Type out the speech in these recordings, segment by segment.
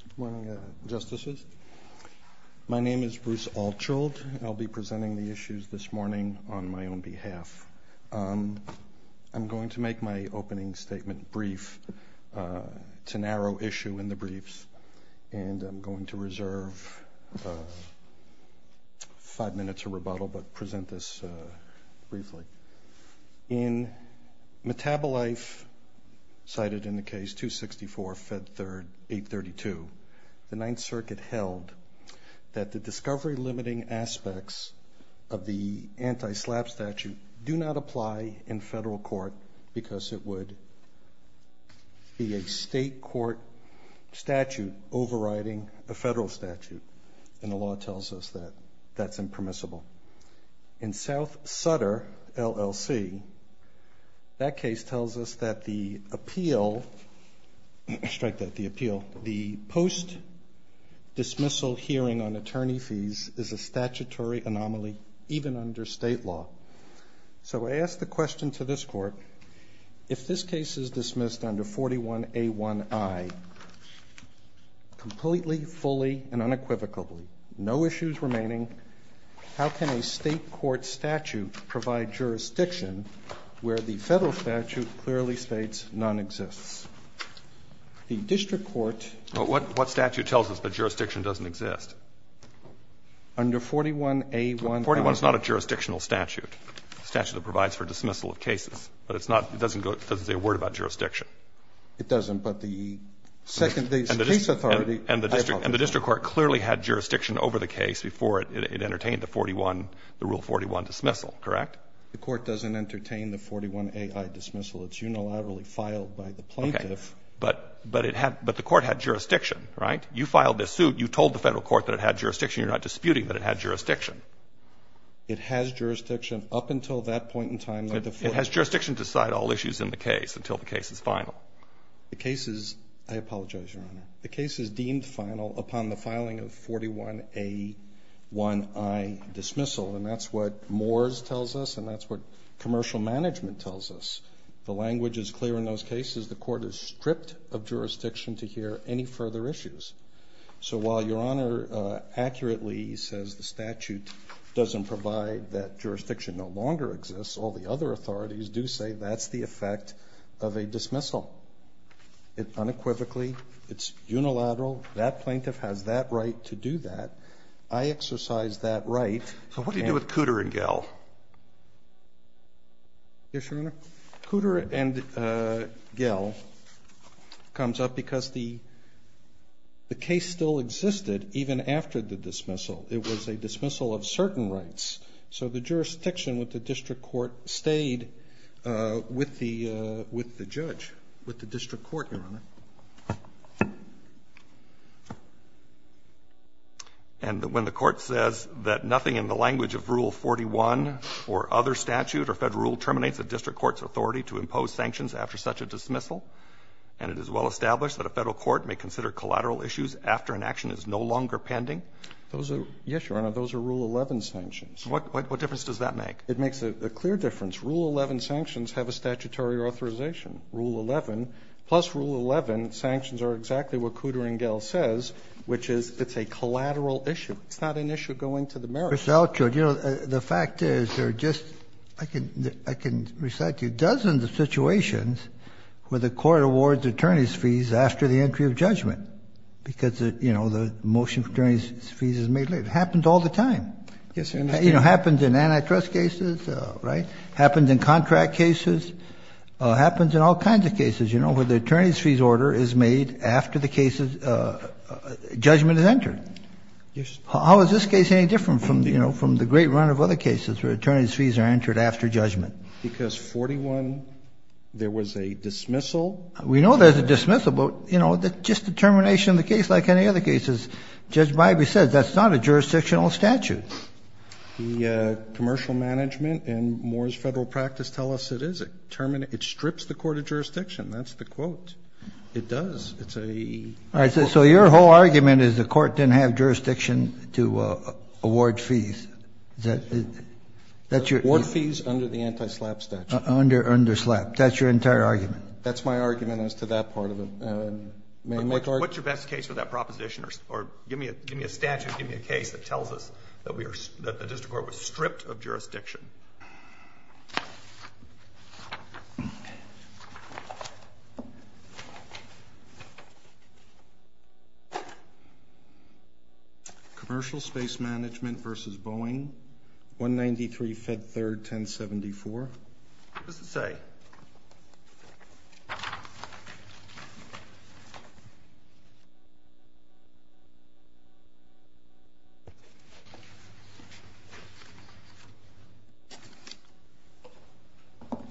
Good morning, Justices. My name is Bruce Altschuld, and I'll be presenting the issues this morning on my own behalf. I'm going to make my opening statement brief. It's a narrow issue in the briefs, and I'm going to reserve five minutes of rebuttal but present this briefly. In Metabolife, cited in the case 264, Fed 3rd, 832, the Ninth Circuit held that the discovery-limiting aspects of the anti-SLAPP statute do not apply in federal court because it would be a state court statute overriding a federal statute, and the law tells us that that's impermissible. In South Sutter, LLC, that case tells us that the appeal, strike that, the appeal, the post-dismissal hearing on attorney fees is a statutory anomaly even under state law. So I ask the question to this Court, if this case is dismissed under 41A1I completely, fully, and unequivocally, no issues remaining, how can a where the federal statute clearly states none exists? The district court --- What statute tells us that jurisdiction doesn't exist? Under 41A1I. 41 is not a jurisdictional statute, a statute that provides for dismissal of cases. But it's not, it doesn't go, it doesn't say a word about jurisdiction. It doesn't, but the second, the case authority- And the district court clearly had jurisdiction over the case before it entertained the 41, the Rule 41 dismissal, correct? The court doesn't entertain the 41AI dismissal. It's unilaterally filed by the plaintiff. Okay. But, but it had, but the court had jurisdiction, right? You filed this suit. You told the federal court that it had jurisdiction. You're not disputing that it had jurisdiction. It has jurisdiction up until that point in time that the 41- It has jurisdiction to decide all issues in the case until the case is final. The case is, I apologize, Your Honor. But that's what Congress tells us, and that's what commercial management tells us. The language is clear in those cases. The court is stripped of jurisdiction to hear any further issues. So while Your Honor accurately says the statute doesn't provide that jurisdiction no longer exists, all the other authorities do say that's the effect of a dismissal. It unequivocally, it's unilateral. That plaintiff has that right to do that. I exercise that right. So what do you do with Cooter and Gell? Yes, Your Honor. Cooter and Gell comes up because the case still existed even after the dismissal. It was a dismissal of certain rights. So the jurisdiction with the district court stayed with the judge, with the district court, Your Honor. And when the court says that nothing in the language of Rule 41 or other statute or Federal rule terminates a district court's authority to impose sanctions after such a dismissal, and it is well established that a Federal court may consider collateral issues after an action is no longer pending? Yes, Your Honor. Those are Rule 11 sanctions. What difference does that make? It makes a clear difference. Rule 11 sanctions have a statutory authorization. Rule 11, plus Rule 11 sanctions are exactly what Cooter and Gell says, which is it's a collateral issue. It's not an issue going to the merits court. The fact is there are just, I can recite to you, dozens of situations where the court awards attorney's fees after the entry of judgment, because, you know, the motion for attorney's fees is made later. It happens all the time. It happens in antitrust cases, right, happens in contract cases, happens in all kinds of cases, you know, where the attorney's fees order is made after the case's judgment is entered. How is this case any different from, you know, from the great run of other cases where attorney's fees are entered after judgment? Because 41, there was a dismissal. We know there's a dismissal, but, you know, just the termination of the case like any other cases. Judge Bybee said that's not a jurisdictional statute. The commercial management and Moore's Federal practice tell us it is. It strips the court of jurisdiction. That's the quote. It does. It's a quote. Kennedy. So your whole argument is the court didn't have jurisdiction to award fees. Is that your? Ward fees under the anti-SLAPP statute. Under SLAPP. That's your entire argument. That's my argument as to that part of it. May I make argument? What's your best case for that proposition? Or give me a statute, give me a case that tells us that the district court was stripped of jurisdiction. Commercial space management versus Boeing, 193 Fed 3rd, 1074. What does it say?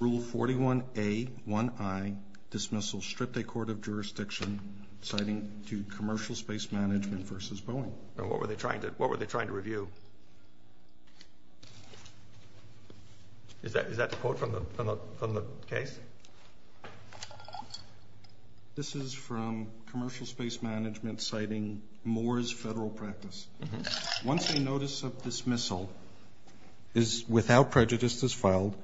Rule 41A1I, dismissal, stripped a court of jurisdiction, citing to commercial space management versus Boeing. And what were they trying to, what were they trying to review? Is that the quote from the case? This is from commercial space management citing Moore's Federal practice. Once a notice of dismissal is without prejudice is filed,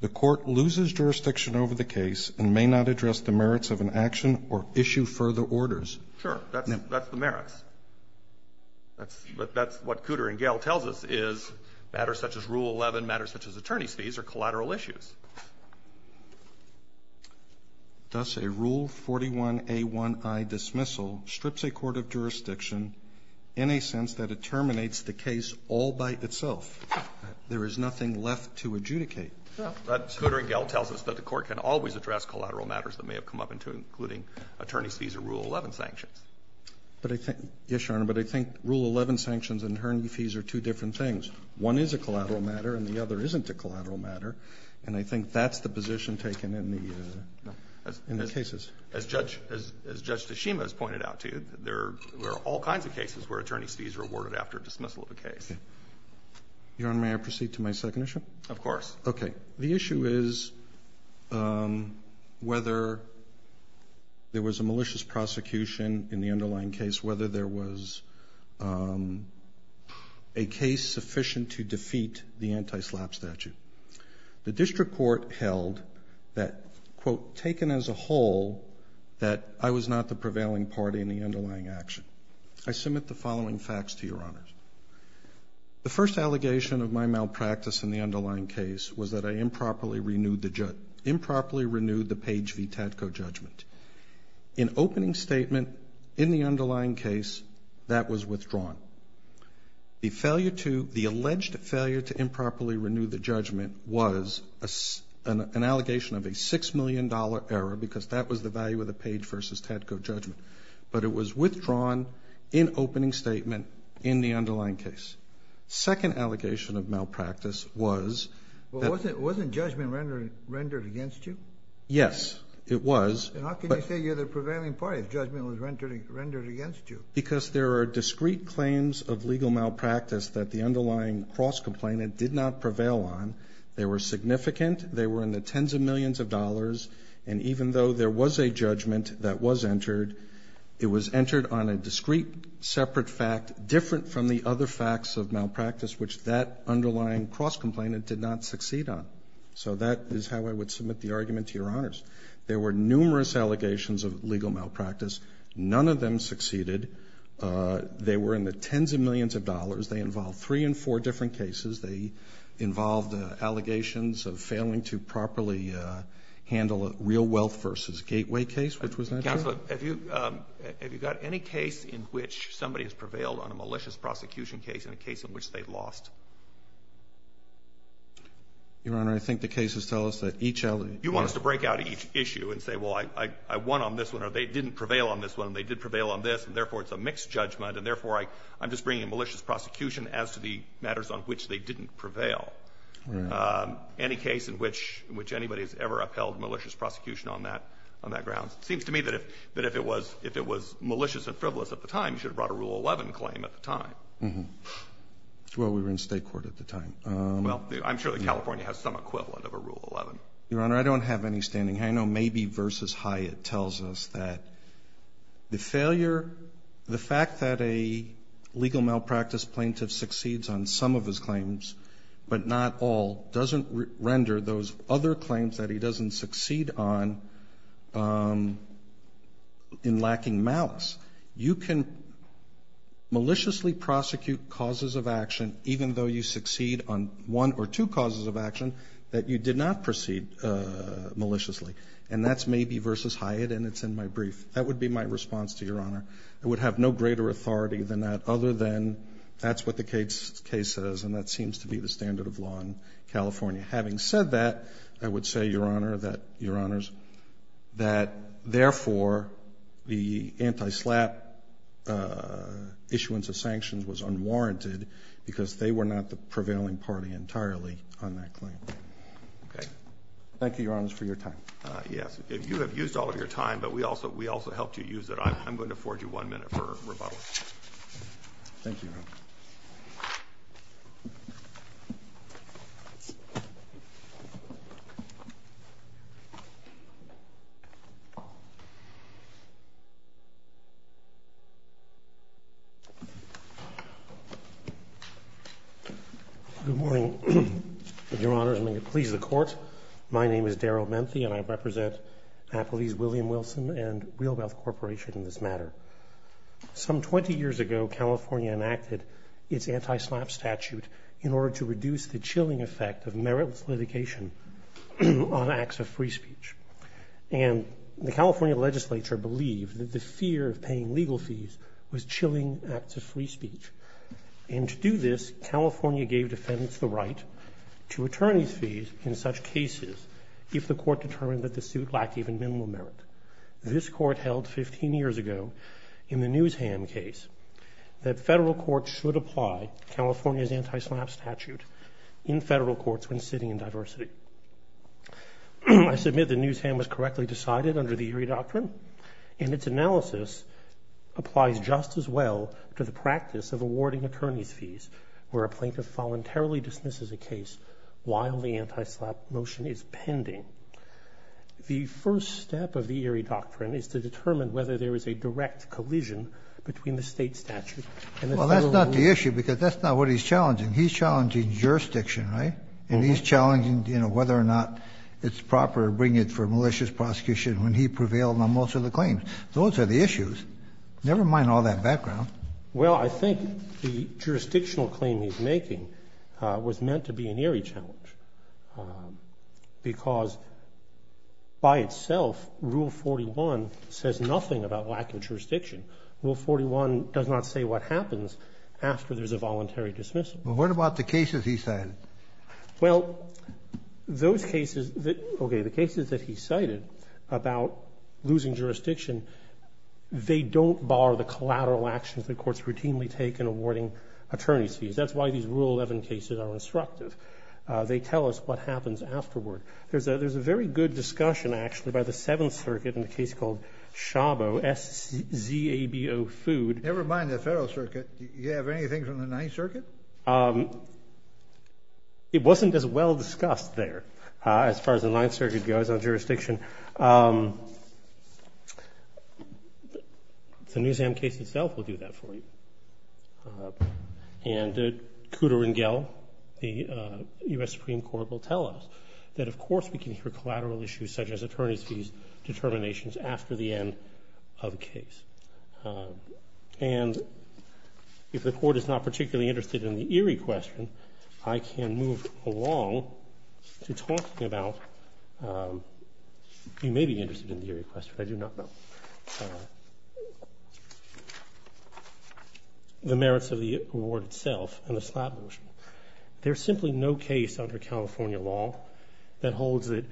the court loses jurisdiction over the case and may not address the merits of an action or issue further orders. Sure. That's the merits. That's what Cooter and Gehl tells us is matters such as Rule 11, matters such as attorney's fees, are collateral issues. Thus, a Rule 41A1I dismissal strips a court of jurisdiction in a sense that it terminates the case all by itself. There is nothing left to adjudicate. That's what Cooter and Gehl tells us, that the court can always address collateral matters that may have come up, including attorney's fees or Rule 11 sanctions. But I think, yes, Your Honor, but I think Rule 11 sanctions and attorney fees are two different things. One is a collateral matter and the other isn't a collateral matter. And I think that's the position taken in the cases. As Judge Tashima has pointed out to you, there are all kinds of cases where attorney's fees are awarded after dismissal of a case. Your Honor, may I proceed to my second issue? Of course. Okay. The issue is whether there was a malicious prosecution in the underlying case, whether there was a case sufficient to defeat the anti-SLAPP statute. The district court held that, quote, taken as a whole, that I was not the prevailing party in the underlying action. I submit the following facts to Your Honors. The first allegation of my malpractice in the underlying case was that I improperly renewed the page v. Tadco judgment. In opening statement, in the underlying case, that was withdrawn. The alleged failure to improperly renew the judgment was an allegation of a $6 million error, because that was the value of the page versus Tadco judgment. But it was withdrawn in opening statement in the underlying case. Second allegation of malpractice was that... Well, wasn't judgment rendered against you? Yes, it was. And how can you say you're the prevailing party if judgment was rendered against you? Because there are discrete claims of legal malpractice that the underlying cross-complaint did not prevail on. They were significant. They were in the tens of millions of dollars. And even though there was a judgment that was entered, it was entered on a discrete, separate fact different from the other facts of malpractice, which that underlying cross-complaint did not succeed on. So that is how I would submit the argument to Your Honors. There were numerous allegations of legal malpractice. None of them succeeded. They were in the tens of millions of dollars. They involved three and four different cases. They involved allegations of failing to properly handle a real wealth versus gateway case, which was not true. Counselor, have you got any case in which somebody has prevailed on a malicious prosecution case in a case in which they lost? Your Honor, I think the cases tell us that each... You want us to break out each issue and say, well, I won on this one or they didn't prevail on this one and they did prevail on this, and therefore it's a mixed judgment and therefore I'm just bringing a malicious prosecution as to the matters on which they didn't prevail. Any case in which anybody has ever upheld malicious prosecution on that grounds. It seems to me that if it was malicious and frivolous at the time, you should have brought a Rule 11 claim at the time. Well, we were in State court at the time. Well, I'm sure that California has some equivalent of a Rule 11. Your Honor, I don't have any standing. I know maybe versus Hyatt tells us that the failure, the fact that a legal malpractice plaintiff succeeds on some of his claims but not all doesn't render those other claims that he doesn't succeed on in lacking malice. You can maliciously prosecute causes of action even though you succeed on one or two causes of action that you did not proceed maliciously, and that's maybe versus Hyatt and it's in my brief. That would be my response to Your Honor. I would have no greater authority than that other than that's what the case says and that seems to be the standard of law in California. Having said that, I would say, Your Honor, that, Your Honors, that therefore, the anti-SLAPP issuance of sanctions was unwarranted because they were not the prevailing party entirely on that claim. Okay. Thank you, Your Honors, for your time. Yes. You have used all of your time, but we also helped you use it. I'm going to afford you one minute for rebuttal. Thank you, Your Honor. Good morning, Your Honors, and may it please the Court. My name is Daryl Menthe and I represent Appellees William Wilson and Real Wealth Corporation in this matter. Some 20 years ago, California enacted its anti-SLAPP statute in order to reduce the chilling effect of meritless litigation on acts of free speech, and the California legislature believed that the fear of paying legal fees was chilling acts of free speech, and to do this, California gave defendants the right to attorney's fees in such cases if the court determined that the suit lacked even minimal merit. This Court held 15 years ago in the Newsham case that federal courts should apply California's anti-SLAPP statute in federal courts when sitting in diversity. I submit that Newsham was correctly decided under the Erie Doctrine, and its analysis applies just as well to the practice of awarding attorney's fees, where a plaintiff voluntarily dismisses a case while the anti-SLAPP motion is pending. The first step of the Erie Doctrine is to determine whether there is a direct collision between the state statute and the federal law. Well, that's not the issue, because that's not what he's challenging. He's challenging jurisdiction, right? And he's challenging, you know, whether or not it's proper to bring it for malicious prosecution when he prevailed on most of the claims. Those are the issues. Never mind all that background. Well, I think the jurisdictional claim he's making was meant to be an Erie challenge, because by itself, Rule 41 says nothing about lack of jurisdiction. Rule 41 does not say what happens after there's a voluntary dismissal. Well, what about the cases he cited? Well, those cases that, okay, the cases that he cited about losing jurisdiction, they don't bar the collateral actions that courts routinely take in awarding attorney's fees. That's why these Rule 11 cases are instructive. They tell us what happens afterward. There's a very good discussion, actually, by the Seventh Circuit in a case called SHABO, S-Z-A-B-O, food. Never mind the Federal Circuit. Do you have anything from the Ninth Circuit? It wasn't as well discussed there as far as the Ninth Circuit goes on jurisdiction. The Newsam case itself will do that for you. And Kuder and Gell, the U.S. Supreme Court, will tell us that, of course, we can hear collateral issues such as attorney's fees determinations after the end of a case. And if the Court is not particularly interested in the Erie question, I can move along to talking about, you may be interested in the Erie question, I do not know, the merits of the award itself and the slap motion. There's simply no case under California law that holds that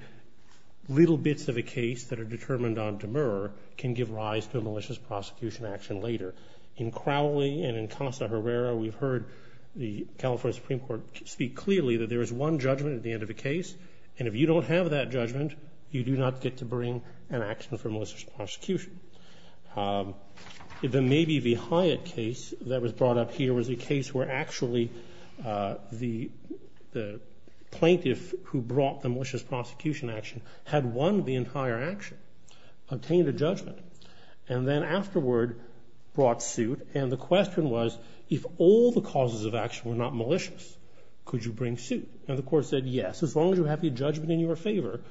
little bits of a case that are determined on demur can give rise to a malicious prosecution action later. In Crowley and in Casa Herrera, we've heard the California Supreme Court speak clearly that there is one judgment at the end of a case, and if you don't have that judgment, you do not get to bring an action for malicious prosecution. The Maybe v. Hyatt case that was brought up here was a case where actually the plaintiff who brought the malicious prosecution action had won the entire action, obtained a judgment, and then afterward brought suit, and the question was, if all the causes of action were not malicious, could you bring suit? And the Court said, yes. As long as you have the judgment in your favor,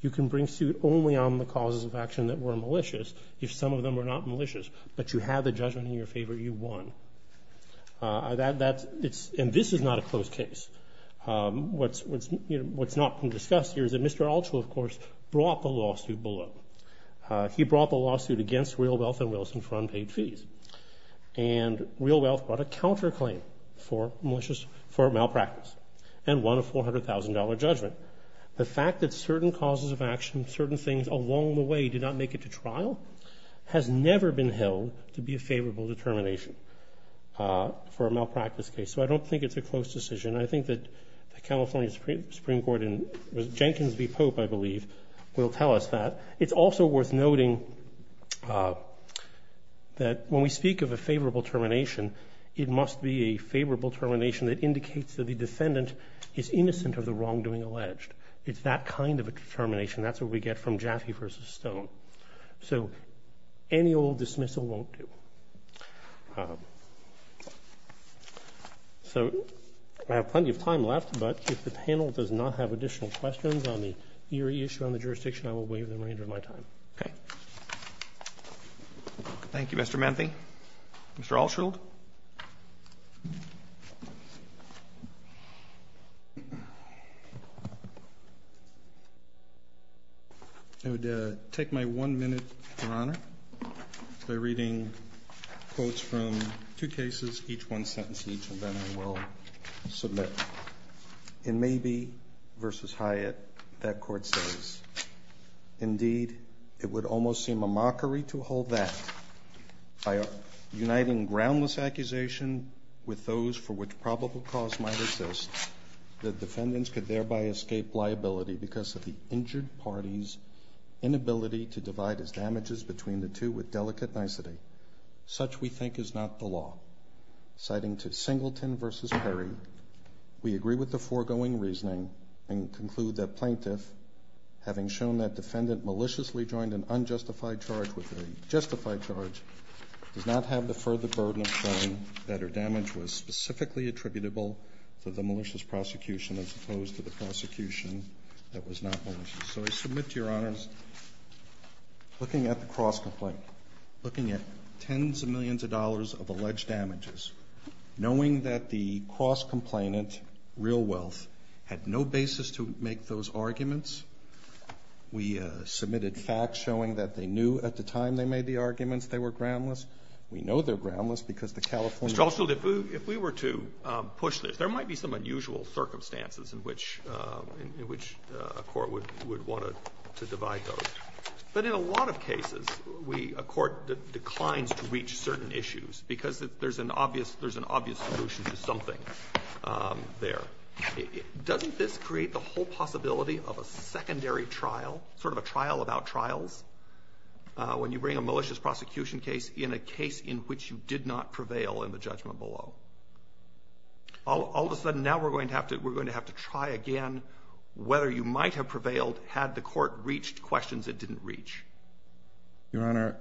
you can bring suit only on the causes of action that were malicious. If some of them were not malicious, but you had the judgment in your favor, you won. And this is not a closed case. What's not being discussed here is that Mr. Altshuler, of course, brought the lawsuit below. He brought the lawsuit against Real Wealth and Wilson for unpaid fees. And Real Wealth brought a counterclaim for malpractice and won a $400,000 judgment. The fact that certain causes of action, certain things along the way did not make it to trial, has never been held to be a favorable determination for a malpractice case. So I don't think it's a closed decision. I think that the California Supreme Court and Jenkins v. Pope, I believe, will tell us that. It's also worth noting that when we speak of a favorable termination, it must be a favorable termination that indicates that the defendant is innocent of the wrongdoing alleged. It's that kind of a determination. That's what we get from Jaffe v. Stone. So any old dismissal won't do. So I have plenty of time left, but if the panel does not have additional questions on the eerie issue on the jurisdiction, I will waive the remainder of my time. Okay. Thank you, Mr. Manthe. Mr. Altshuler? I would take my one minute, Your Honor, by reading quotes from two cases, each one sentence each, and then I will submit. In Mabee v. Hyatt, that court says, Indeed, it would almost seem a mockery to hold that by uniting groundless accusation with those for which probable cause might exist, that defendants could thereby escape liability because of the injured party's inability to divide his damages between the two with delicate nicety. Such, we think, is not the law. Citing to Singleton v. Perry, We agree with the foregoing reasoning and conclude that plaintiff, having shown that defendant maliciously joined an unjustified charge with a justified charge, does not have the further burden of showing that her damage was specifically attributable to the malicious prosecution as opposed to the prosecution that was not malicious. So I submit to Your Honors, looking at the cross-complaint, looking at tens of millions of dollars of alleged damages, knowing that the cross-complainant, Real Wealth, had no basis to make those arguments, we submitted facts showing that they knew at the time they made the arguments they were groundless. We know they're groundless because the California... Mr. Altshuler, if we were to push this, there might be some unusual circumstances in which a court would want to divide those. But in a lot of cases, a court declines to reach certain issues because there's an obvious solution to something there. Doesn't this create the whole possibility of a secondary trial, sort of a trial about trials, when you bring a malicious prosecution case in a case in which you did not prevail in the judgment below? All of a sudden, now we're going to have to try again whether you might have prevailed had the court reached questions it didn't reach. Your Honor,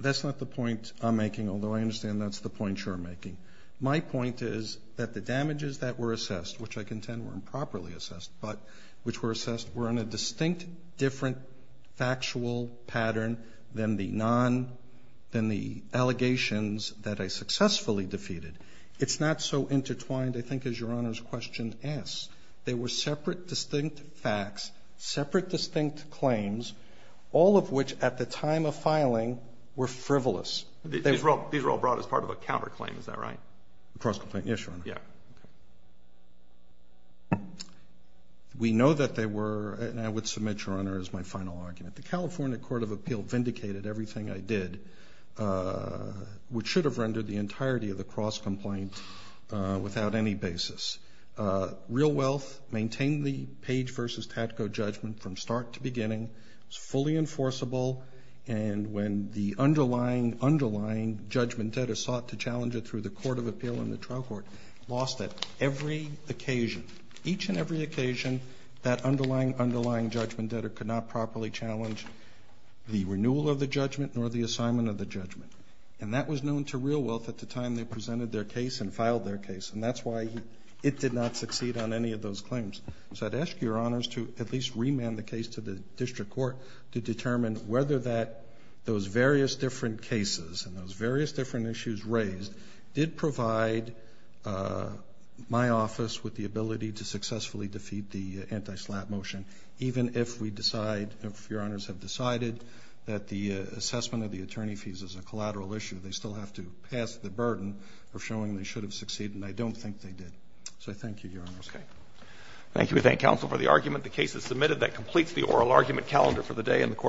that's not the point I'm making, although I understand that's the point you're making. My point is that the damages that were assessed, which I contend were improperly assessed, but which were assessed were in a distinct, different, factual pattern than the allegations that I successfully defeated. It's not so intertwined, I think, as Your Honor's question asks. They were separate, distinct facts, separate, distinct claims, all of which, at the time of filing, were frivolous. These were all brought as part of a counterclaim, is that right? A cross-complaint, yes, Your Honor. Yeah. We know that they were, and I would submit, Your Honor, as my final argument, the California Court of Appeal vindicated everything I did, which should have rendered the entirety of the cross-complaint without any basis. Real Wealth maintained the Page v. Tadko judgment from start to beginning. It was fully enforceable, and when the underlying, underlying judgment debtor sought to challenge it through the Court of Appeal and the trial court, lost it every occasion. Each and every occasion that underlying, underlying judgment debtor could not properly challenge the renewal of the judgment nor the assignment of the judgment. And that was known to Real Wealth at the time they presented their case and filed their case, and that's why it did not succeed on any of those claims. So I'd ask Your Honors to at least remand the case to the district court to determine whether that, those various different cases and those various different issues raised did provide my office with the ability to successfully defeat the anti-SLAPP motion, even if we decide, if Your Honors have decided that the assessment of the attorney fees is a collateral issue. They still have to pass the burden of showing they should have succeeded, and I don't think they did. So I thank you, Your Honors. Thank you.